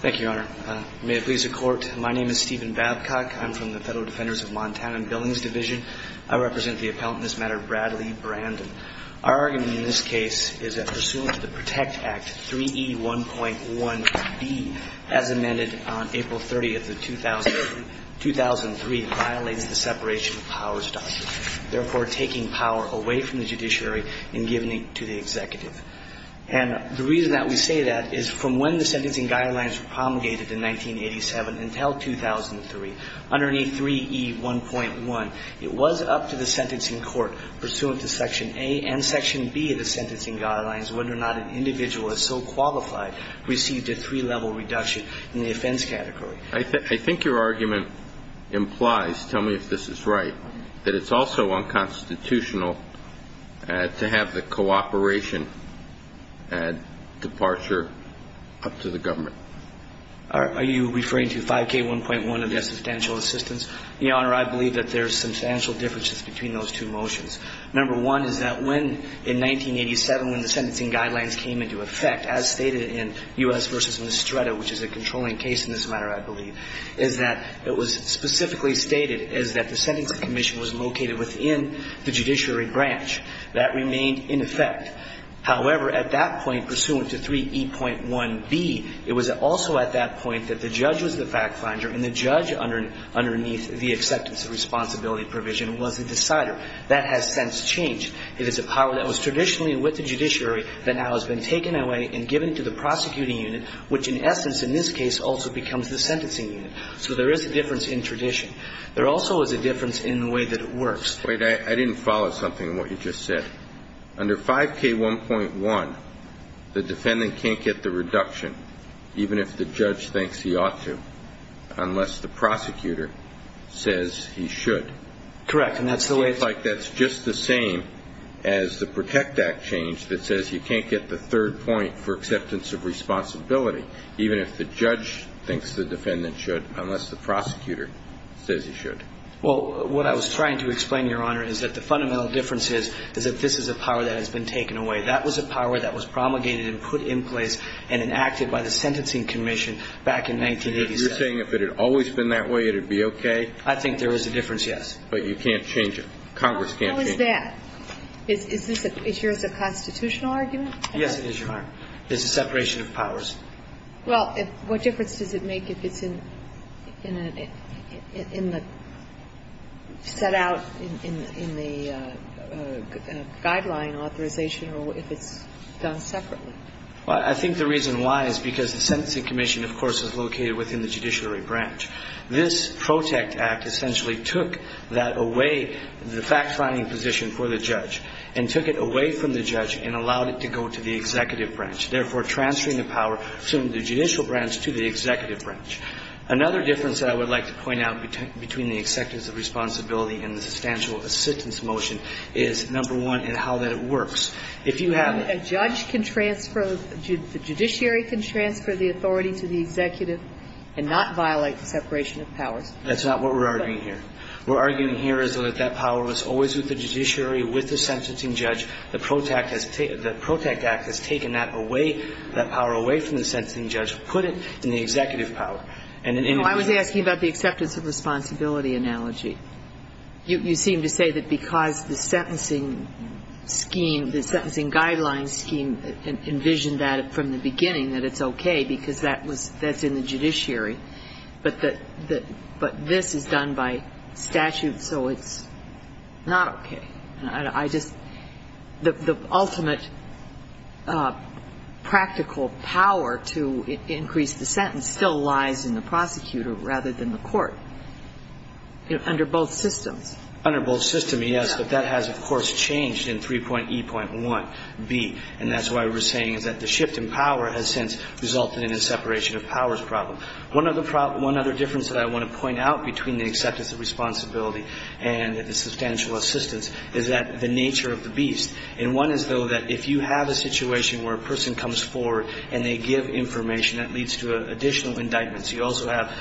Thank you, Your Honor. May it please the Court, my name is Stephen Babcock. I'm from the Federal Defenders of Montana Billings Division. I represent the appellant in this matter, Bradley Brandon. Our argument in this case is that pursuant to the PROTECT Act, 3E1.1b, as amended on April 30, 2003, violates the separation of powers doctrine, therefore taking power away from the judiciary and giving it to the executive. As a result of this violation, I am here today to speak on behalf And the reason that we say that is from when the sentencing guidelines were promulgated in 1987 until 2003, underneath 3E1.1, it was up to the sentencing court, pursuant to Section A and Section B of the sentencing guidelines, whether or not an individual is so qualified, received a three-level reduction in the offense category. I think your argument implies, tell me if this is right, that it's also unconstitutional to have the cooperation departure up to the government. Are you referring to 5K1.1 of the substantial assistance? Your Honor, I believe that there's substantial differences between those two motions. Number one is that when, in 1987, when the sentencing guidelines came into effect, as stated in U.S. v. Nistretto, which is a controlling case in this matter, I believe, is that it was specifically stated is that the sentencing commission was located within the judiciary branch. That remained in effect. However, at that point, pursuant to 3E.1b, it was also at that point that the judge was the fact finder and the judge underneath the acceptance of responsibility provision was the decider. That has since changed. It is a power that was traditionally with the judiciary that now has been taken away and given to the prosecuting unit, which in essence, in this case, also becomes the sentencing unit. So there is a difference in tradition. There also is a difference in the way that it works. Wait, I didn't follow something of what you just said. Under 5K1.1, the defendant can't get the reduction, even if the judge thinks he ought to, unless the prosecutor says he should. Correct. And that's the way it is. It seems like that's just the same as the Protect Act change that says you can't get the third point for acceptance of responsibility, even if the judge thinks the defendant should, unless the prosecutor says he should. Well, what I was trying to explain, Your Honor, is that the fundamental difference is that this is a power that has been taken away. That was a power that was promulgated and put in place and enacted by the Sentencing Commission back in 1987. You're saying if it had always been that way, it would be okay? I think there is a difference, yes. But you can't change it. Congress can't change it. How is that? Is yours a constitutional argument? Yes, it is, Your Honor. It's a separation of powers. Well, what difference does it make if it's in the set out in the guideline authorization or if it's done separately? Well, I think the reason why is because the Sentencing Commission, of course, is located within the judiciary branch. This Protect Act essentially took that away, the fact-finding position for the judge, and took it away from the judge and allowed it to go to the executive branch, therefore transferring the power from the judicial branch to the executive branch. Another difference that I would like to point out between the executive's responsibility and the substantial assistance motion is, number one, in how that works. If you have a judge can transfer, the judiciary can transfer the authority to the executive and not violate the separation of powers. That's not what we're arguing here. We're arguing here is that that power was always with the judiciary, with the sentencing judge. The Protect Act has taken that away, that power away from the sentencing judge, put it in the executive power. I was asking about the acceptance of responsibility analogy. You seem to say that because the sentencing scheme, the sentencing guideline scheme envisioned that from the beginning, that it's okay because that's in the judiciary. But this is done by statute, so it's not okay. The ultimate practical power to increase the sentence still lies in the prosecutor rather than the court under both systems. Under both systems, yes, but that has, of course, changed in 3.E.1b. And that's why we're saying is that the shift in power has since resulted in a separation of powers problem. One other difference that I want to point out between the acceptance of responsibility and the substantial assistance is that the nature of the beast. And one is, though, that if you have a situation where a person comes forward and they give information, that leads to additional indictments. You also have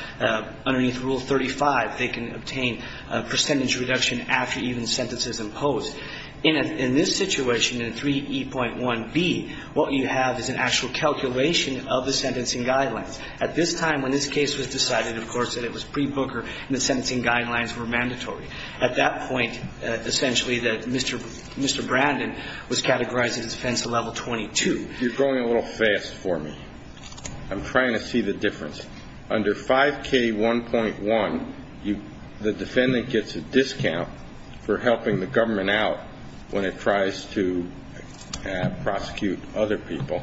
underneath Rule 35, they can obtain a percentage reduction after even sentences imposed. In this situation, in 3.E.1b, what you have is an actual calculation of the sentencing guidelines. At this time, when this case was decided, of course, that it was pre-Booker and the At that point, essentially, Mr. Brandon was categorizing his offense to level 22. You're going a little fast for me. I'm trying to see the difference. Under 5K1.1, the defendant gets a discount for helping the government out when it tries to prosecute other people,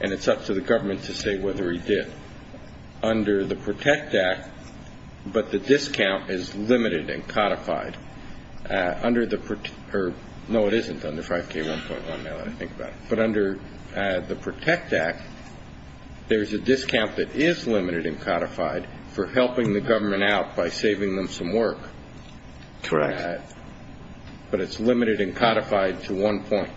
and it's up to the government to say whether he did. Under the PROTECT Act, but the discount is limited and codified. No, it isn't under 5K1.1, now that I think about it. But under the PROTECT Act, there's a discount that is limited and codified for helping the government out by saving them some work. Correct. But it's limited and codified to one point.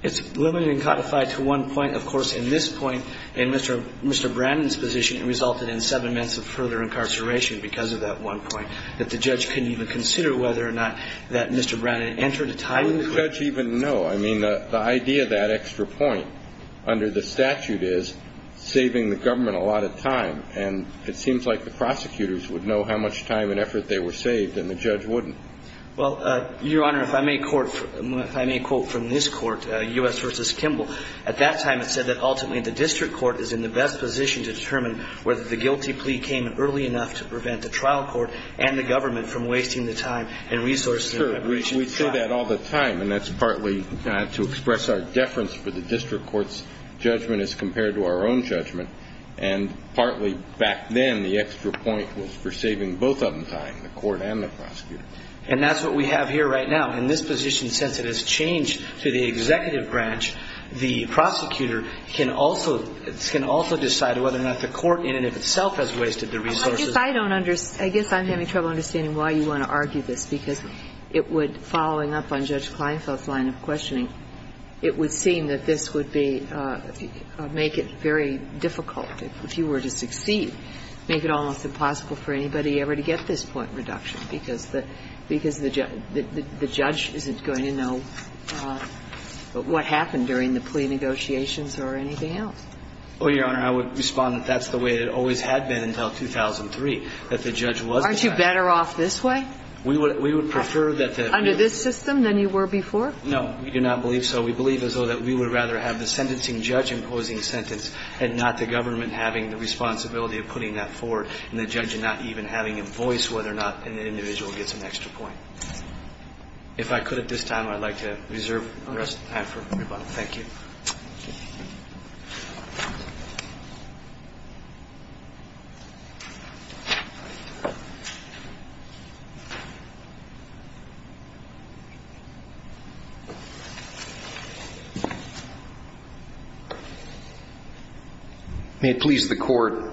It's limited and codified to one point. Of course, in this point, in Mr. Brandon's position, it resulted in seven months of further incarceration because of that one point, that the judge couldn't even consider whether or not that Mr. Brandon entered a tie with the court. Would the judge even know? I mean, the idea of that extra point under the statute is saving the government a lot of time, and it seems like the prosecutors would know how much time and effort they were saved, and the judge wouldn't. Well, Your Honor, if I may quote from this court, U.S. v. Kimball, at that time, it said that, ultimately, the district court is in the best position to determine whether the guilty plea came early enough to prevent the trial court and the government from wasting the time and resources in preparation for trial. We say that all the time, and that's partly to express our deference for the district court's judgment as compared to our own judgment. And partly, back then, the extra point was for saving both of them time, the court and the prosecutor. And that's what we have here right now. In this position, since it has changed to the executive branch, the prosecutor can also decide whether or not the court, in and of itself, has wasted the resources. I guess I don't understand. I guess I'm having trouble understanding why you want to argue this, because it would, following up on Judge Kleinfeld's line of questioning, it would seem that this would be, make it very difficult, if you were to succeed, make it almost impossible for anybody ever to get this point reduction, because the judge would never know what happened during the plea negotiations or anything else. Well, Your Honor, I would respond that that's the way it always had been until 2003, that the judge was the judge. Aren't you better off this way? We would prefer that the real... Under this system than you were before? No. We do not believe so. We believe as though that we would rather have the sentencing judge imposing a sentence and not the government having the responsibility of putting that forward and the judge not even having a voice whether or not an individual gets an extra sentence. If I could at this time, I'd like to reserve the rest of the time for everybody. Thank you. May it please the Court,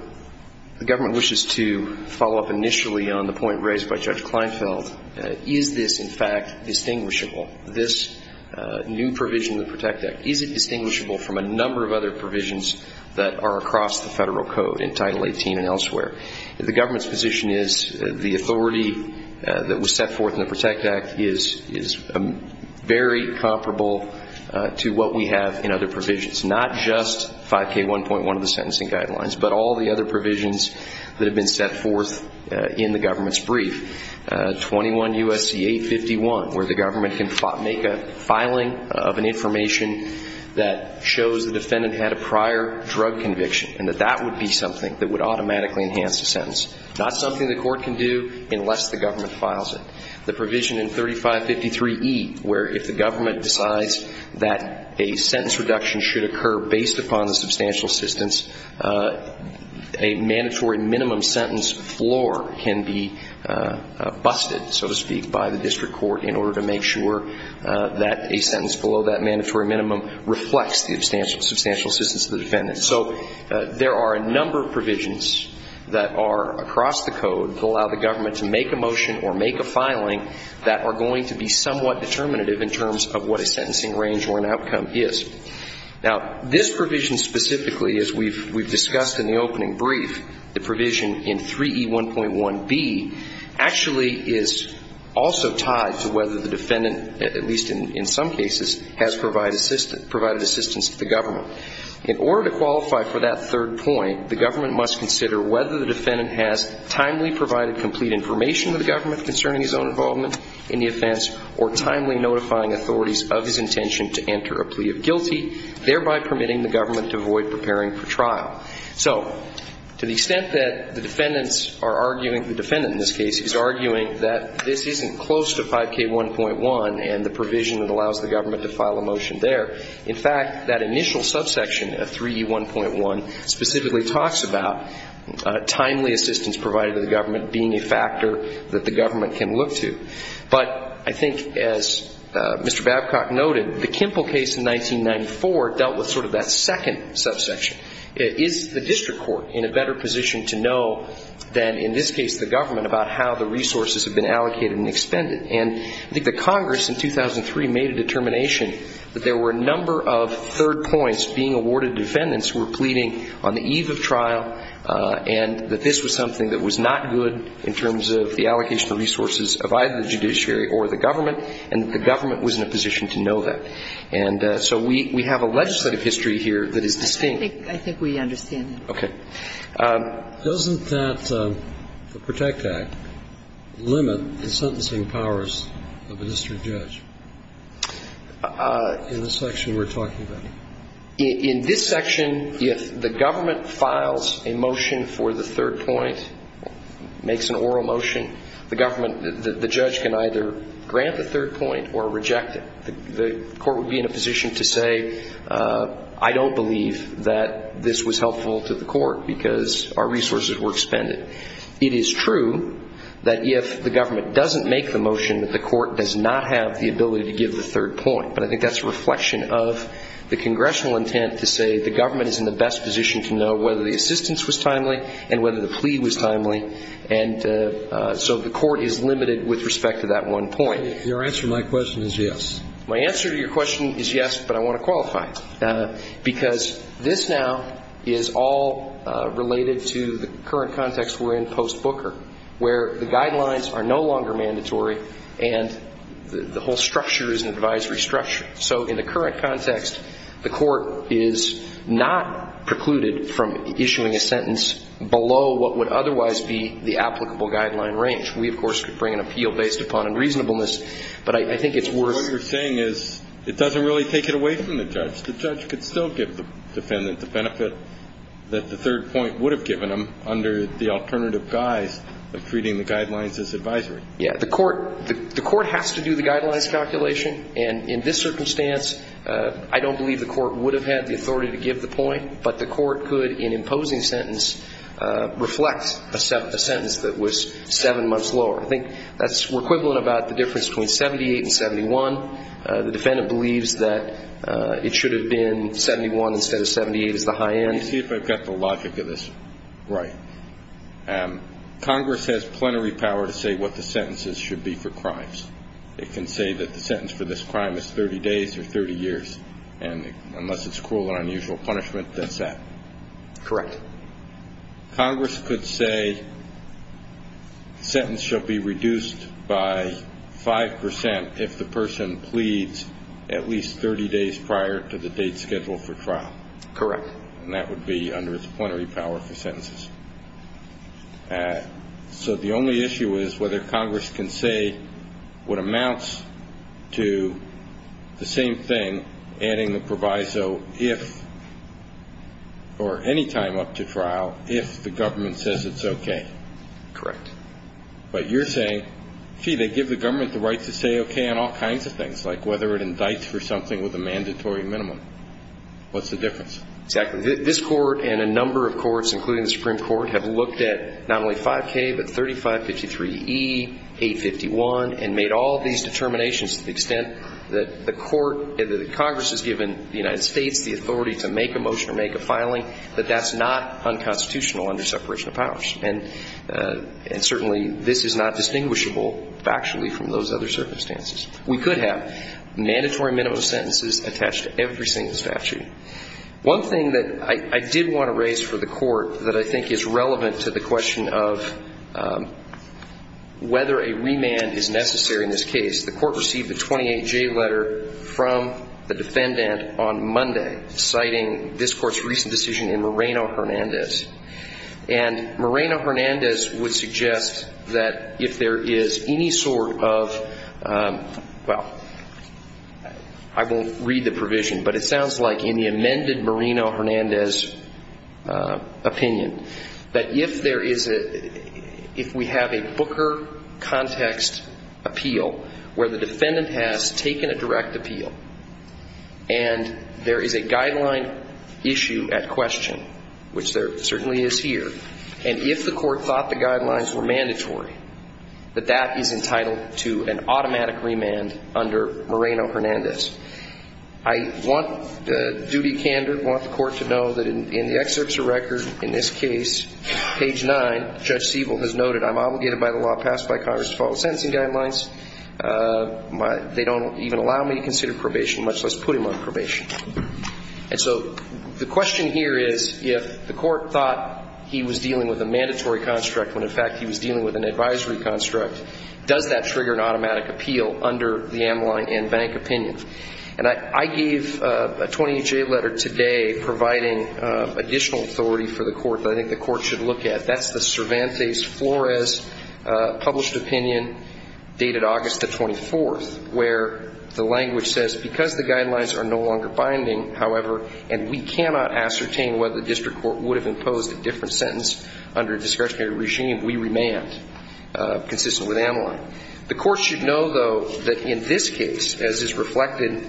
the government wishes to follow up initially on the point raised by Judge Kleinfeld, is this, in fact, distinguishable, this new provision in the PROTECT Act, is it distinguishable from a number of other provisions that are across the federal code in Title 18 and elsewhere? The government's position is the authority that was set forth in the PROTECT Act is very comparable to what we have in other provisions, not just 5K1.1 of the sentencing guidelines, but all the other provisions that have been set forth in the government's brief, 21 U.S.C. 851, where the government can make a filing of an information that shows the defendant had a prior drug conviction and that that would be something that would automatically enhance the sentence. Not something the court can do unless the government files it. The provision in 3553E, where if the government decides that a sentence reduction should occur based upon the substantial assistance, a mandatory minimum sentence floor can be busted, so to speak, by the district court in order to make sure that a sentence below that mandatory minimum reflects the substantial assistance of the defendant. So there are a number of provisions that are across the code that allow the government to make a motion or make a filing that are going to be somewhat determinative in terms of what a sentencing range or an outcome is. Now, this provision specifically, as we've discussed in the opening brief, the 3553E1.1b actually is also tied to whether the defendant, at least in some cases, has provided assistance to the government. In order to qualify for that third point, the government must consider whether the defendant has timely provided complete information to the government concerning his own involvement in the offense or timely notifying authorities of his intention to enter a plea of guilty, thereby permitting the government to avoid preparing for trial. So to the extent that the defendants are arguing, the defendant in this case is arguing that this isn't close to 5K1.1 and the provision that allows the government to file a motion there. In fact, that initial subsection of 3E1.1 specifically talks about timely assistance provided to the government being a factor that the government can look to. But I think as Mr. Babcock noted, the Kimple case in 1994 dealt with sort of that second subsection. Is the district court in a better position to know than, in this case, the government about how the resources have been allocated and expended? And I think the Congress in 2003 made a determination that there were a number of third points being awarded to defendants who were pleading on the eve of trial and that this was something that was not good in terms of the allocation of resources of either the judiciary or the government, and the government was in a position to know that. And so we have a legislative history here that is distinct. I think we understand that. Okay. Doesn't that, the PROTECT Act, limit the sentencing powers of a district judge in the section we're talking about? In this section, if the government files a motion for the third point, makes an oral motion, the government, the judge can either grant the third point or reject it. The court would be in a position to say, I don't believe that this was helpful to the court because our resources were expended. It is true that if the government doesn't make the motion, the court does not have the ability to give the third point. But I think that's a reflection of the congressional intent to say the government is in the best position to know whether the assistance was timely and whether the plea was timely. And so the court is limited with respect to that one point. Your answer to my question is yes. My answer to your question is yes, but I want to qualify, because this now is all related to the current context we're in post-Booker, where the guidelines are no longer So in the current context, the court is not precluded from issuing a sentence below what would otherwise be the applicable guideline range. We, of course, could bring an appeal based upon unreasonableness, but I think it's worth What you're saying is it doesn't really take it away from the judge. The judge could still give the defendant the benefit that the third point would have given him under the alternative guise of treating the guidelines as advisory. Yeah. The court has to do the guidelines calculation, and in this circumstance, I don't believe the court would have had the authority to give the point, but the court could, in imposing sentence, reflect a sentence that was seven months lower. I think that's equivalent about the difference between 78 and 71. The defendant believes that it should have been 71 instead of 78 as the high end. Let me see if I've got the logic of this right. Congress has plenary power to say what the sentences should be for crimes. It can say that the sentence for this crime is 30 days or 30 years, and unless it's cruel and unusual punishment, that's that. Correct. Congress could say sentence should be reduced by 5% if the person pleads at least 30 days prior to the date scheduled for trial. Correct. And that would be under its plenary power for sentences. So the only issue is whether Congress can say what amounts to the same thing adding the proviso if, or any time up to trial, if the government says it's okay. Correct. But you're saying, gee, they give the government the right to say okay on all kinds of things, like whether it indicts for something with a mandatory minimum. What's the difference? Exactly. This Court and a number of courts, including the Supreme Court, have looked at not only 5K, but 3553E, 851, and made all of these determinations to the extent that the Court, that Congress has given the United States the authority to make a motion or make a filing, but that's not unconstitutional under separation of powers. And certainly this is not distinguishable factually from those other circumstances. We could have mandatory minimum sentences attached to every single statute. One thing that I did want to raise for the Court that I think is relevant to the question of whether a remand is necessary in this case, the Court received a 28J letter from the defendant on Monday citing this Court's recent decision in Moreno-Hernandez. And Moreno-Hernandez would suggest that if there is any sort of, well, I won't read it out loud, but I'll read the provision, but it sounds like in the amended Moreno-Hernandez opinion, that if there is a, if we have a Booker context appeal where the defendant has taken a direct appeal and there is a guideline issue at question, which there certainly is here, and if the Court thought the guidelines were mandatory, that that is entitled to an automatic remand under Moreno-Hernandez. I want the duty candor, want the Court to know that in the excerpts of record in this case, page 9, Judge Siebel has noted, I'm obligated by the law passed by Congress to follow sentencing guidelines. They don't even allow me to consider probation, much less put him on probation. And so the question here is, if the Court thought he was dealing with a mandatory construct when, in fact, he was dealing with an advisory construct, does that trigger an automatic appeal under the Amline and Bank opinion? And I gave a 28-J letter today providing additional authority for the Court that I think the Court should look at. That's the Cervantes-Flores published opinion dated August the 24th, where the language says, because the guidelines are no longer binding, however, and we cannot ascertain whether the judgment is consistent with Amline. The Court should know, though, that in this case, as is reflected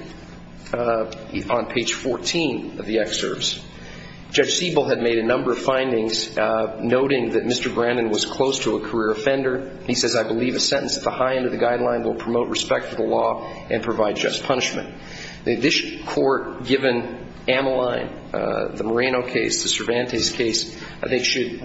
on page 14 of the excerpts, Judge Siebel had made a number of findings noting that Mr. Brandon was close to a career offender. He says, I believe a sentence at the high end of the guideline will promote respect for the law and provide just punishment. This Court, given Amline, the Moreno case, the District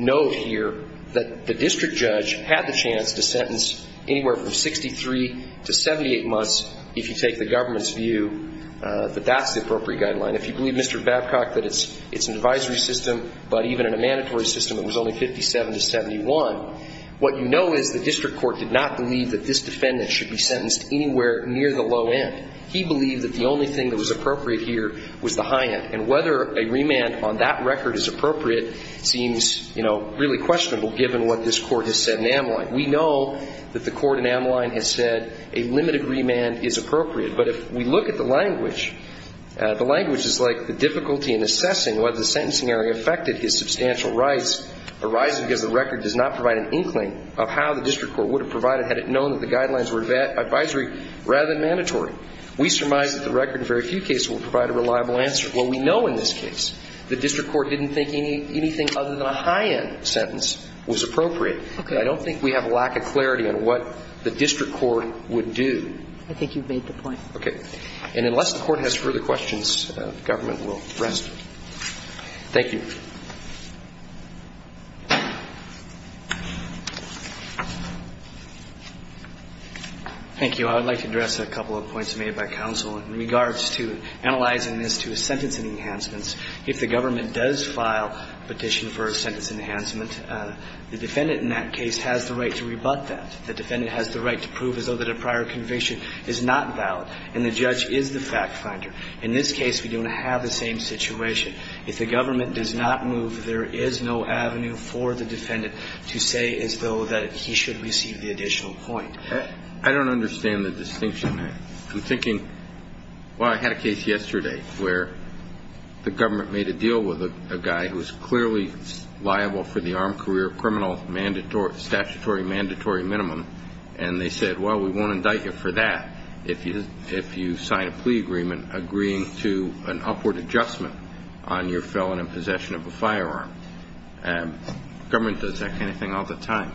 Court, had the chance to sentence anywhere from 63 to 78 months if you take the government's view that that's the appropriate guideline. If you believe, Mr. Babcock, that it's an advisory system, but even in a mandatory system, it was only 57 to 71, what you know is the District Court did not believe that this defendant should be sentenced anywhere near the low end. He believed that the only thing that was clear was the high end, and whether a remand on that record is appropriate seems, you know, really questionable given what this Court has said in Amline. We know that the Court in Amline has said a limited remand is appropriate, but if we look at the language, the language is like the difficulty in assessing whether the sentencing area affected his substantial rights arises because the record does not provide an inkling of how the District Court would have provided had it known that the guidelines were advisory rather than mandatory. We surmise that the record in very few cases will provide a reliable answer. Well, we know in this case the District Court didn't think anything other than a high end sentence was appropriate. But I don't think we have a lack of clarity on what the District Court would do. I think you've made the point. Okay. And unless the Court has further questions, the government will rest. Thank you. Thank you. I would like to address a couple of points made by counsel in regards to analyzing this to sentence enhancements. If the government does file a petition for a sentence enhancement, the defendant in that case has the right to rebut that. The defendant has the right to prove as though that a prior conviction is not valid. And the judge is the fact finder. In this case, we don't have the same situation. If the government does not move, there is no avenue for the defendant to say as though that he should receive the additional point. I don't understand the distinction. I'm thinking, well, I had a case yesterday where the government made a deal with a guy who was clearly liable for the armed career criminal statutory mandatory minimum. And they said, well, we won't indict you for that if you sign a plea agreement agreeing to an upward adjustment on your felon in possession of a firearm. And the government does that kind of thing all the time.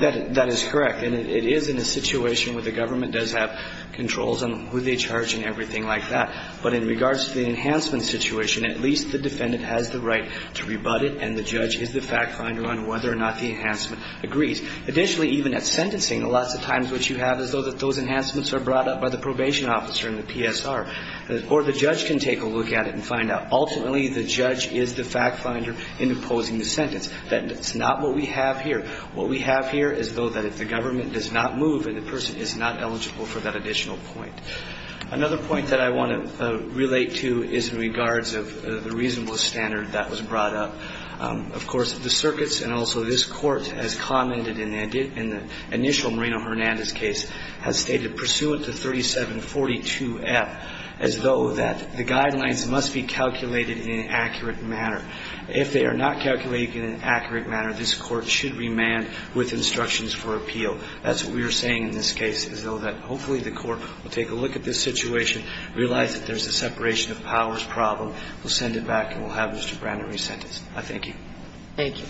That is correct. And it is in a situation where the government does have controls on who they charge and everything like that. But in regards to the enhancement situation, at least the defendant has the right to rebut it, and the judge is the fact finder on whether or not the enhancement agrees. Additionally, even at sentencing, lots of times what you have is those enhancements are brought up by the probation officer and the PSR. Or the judge can take a look at it and find out. Ultimately, the judge is the fact finder in imposing the sentence. That's not what we have here. What we have here is though that if the government does not move, the person is not eligible for that additional point. Another point that I want to relate to is in regards of the reasonable standard that was brought up. Of course, the circuits and also this court has commented in the initial Moreno-Hernandez case has stated pursuant to 3742F as though that the guidelines must be calculated in an accurate manner. If they are not calculated in an accurate manner, this court should remand with instructions for appeal. That's what we are saying in this case, is though that hopefully the court will take a look at this situation, realize that there's a separation of powers problem, will send it back, and we'll have Mr. Brannon resentenced. I thank you. Thank you.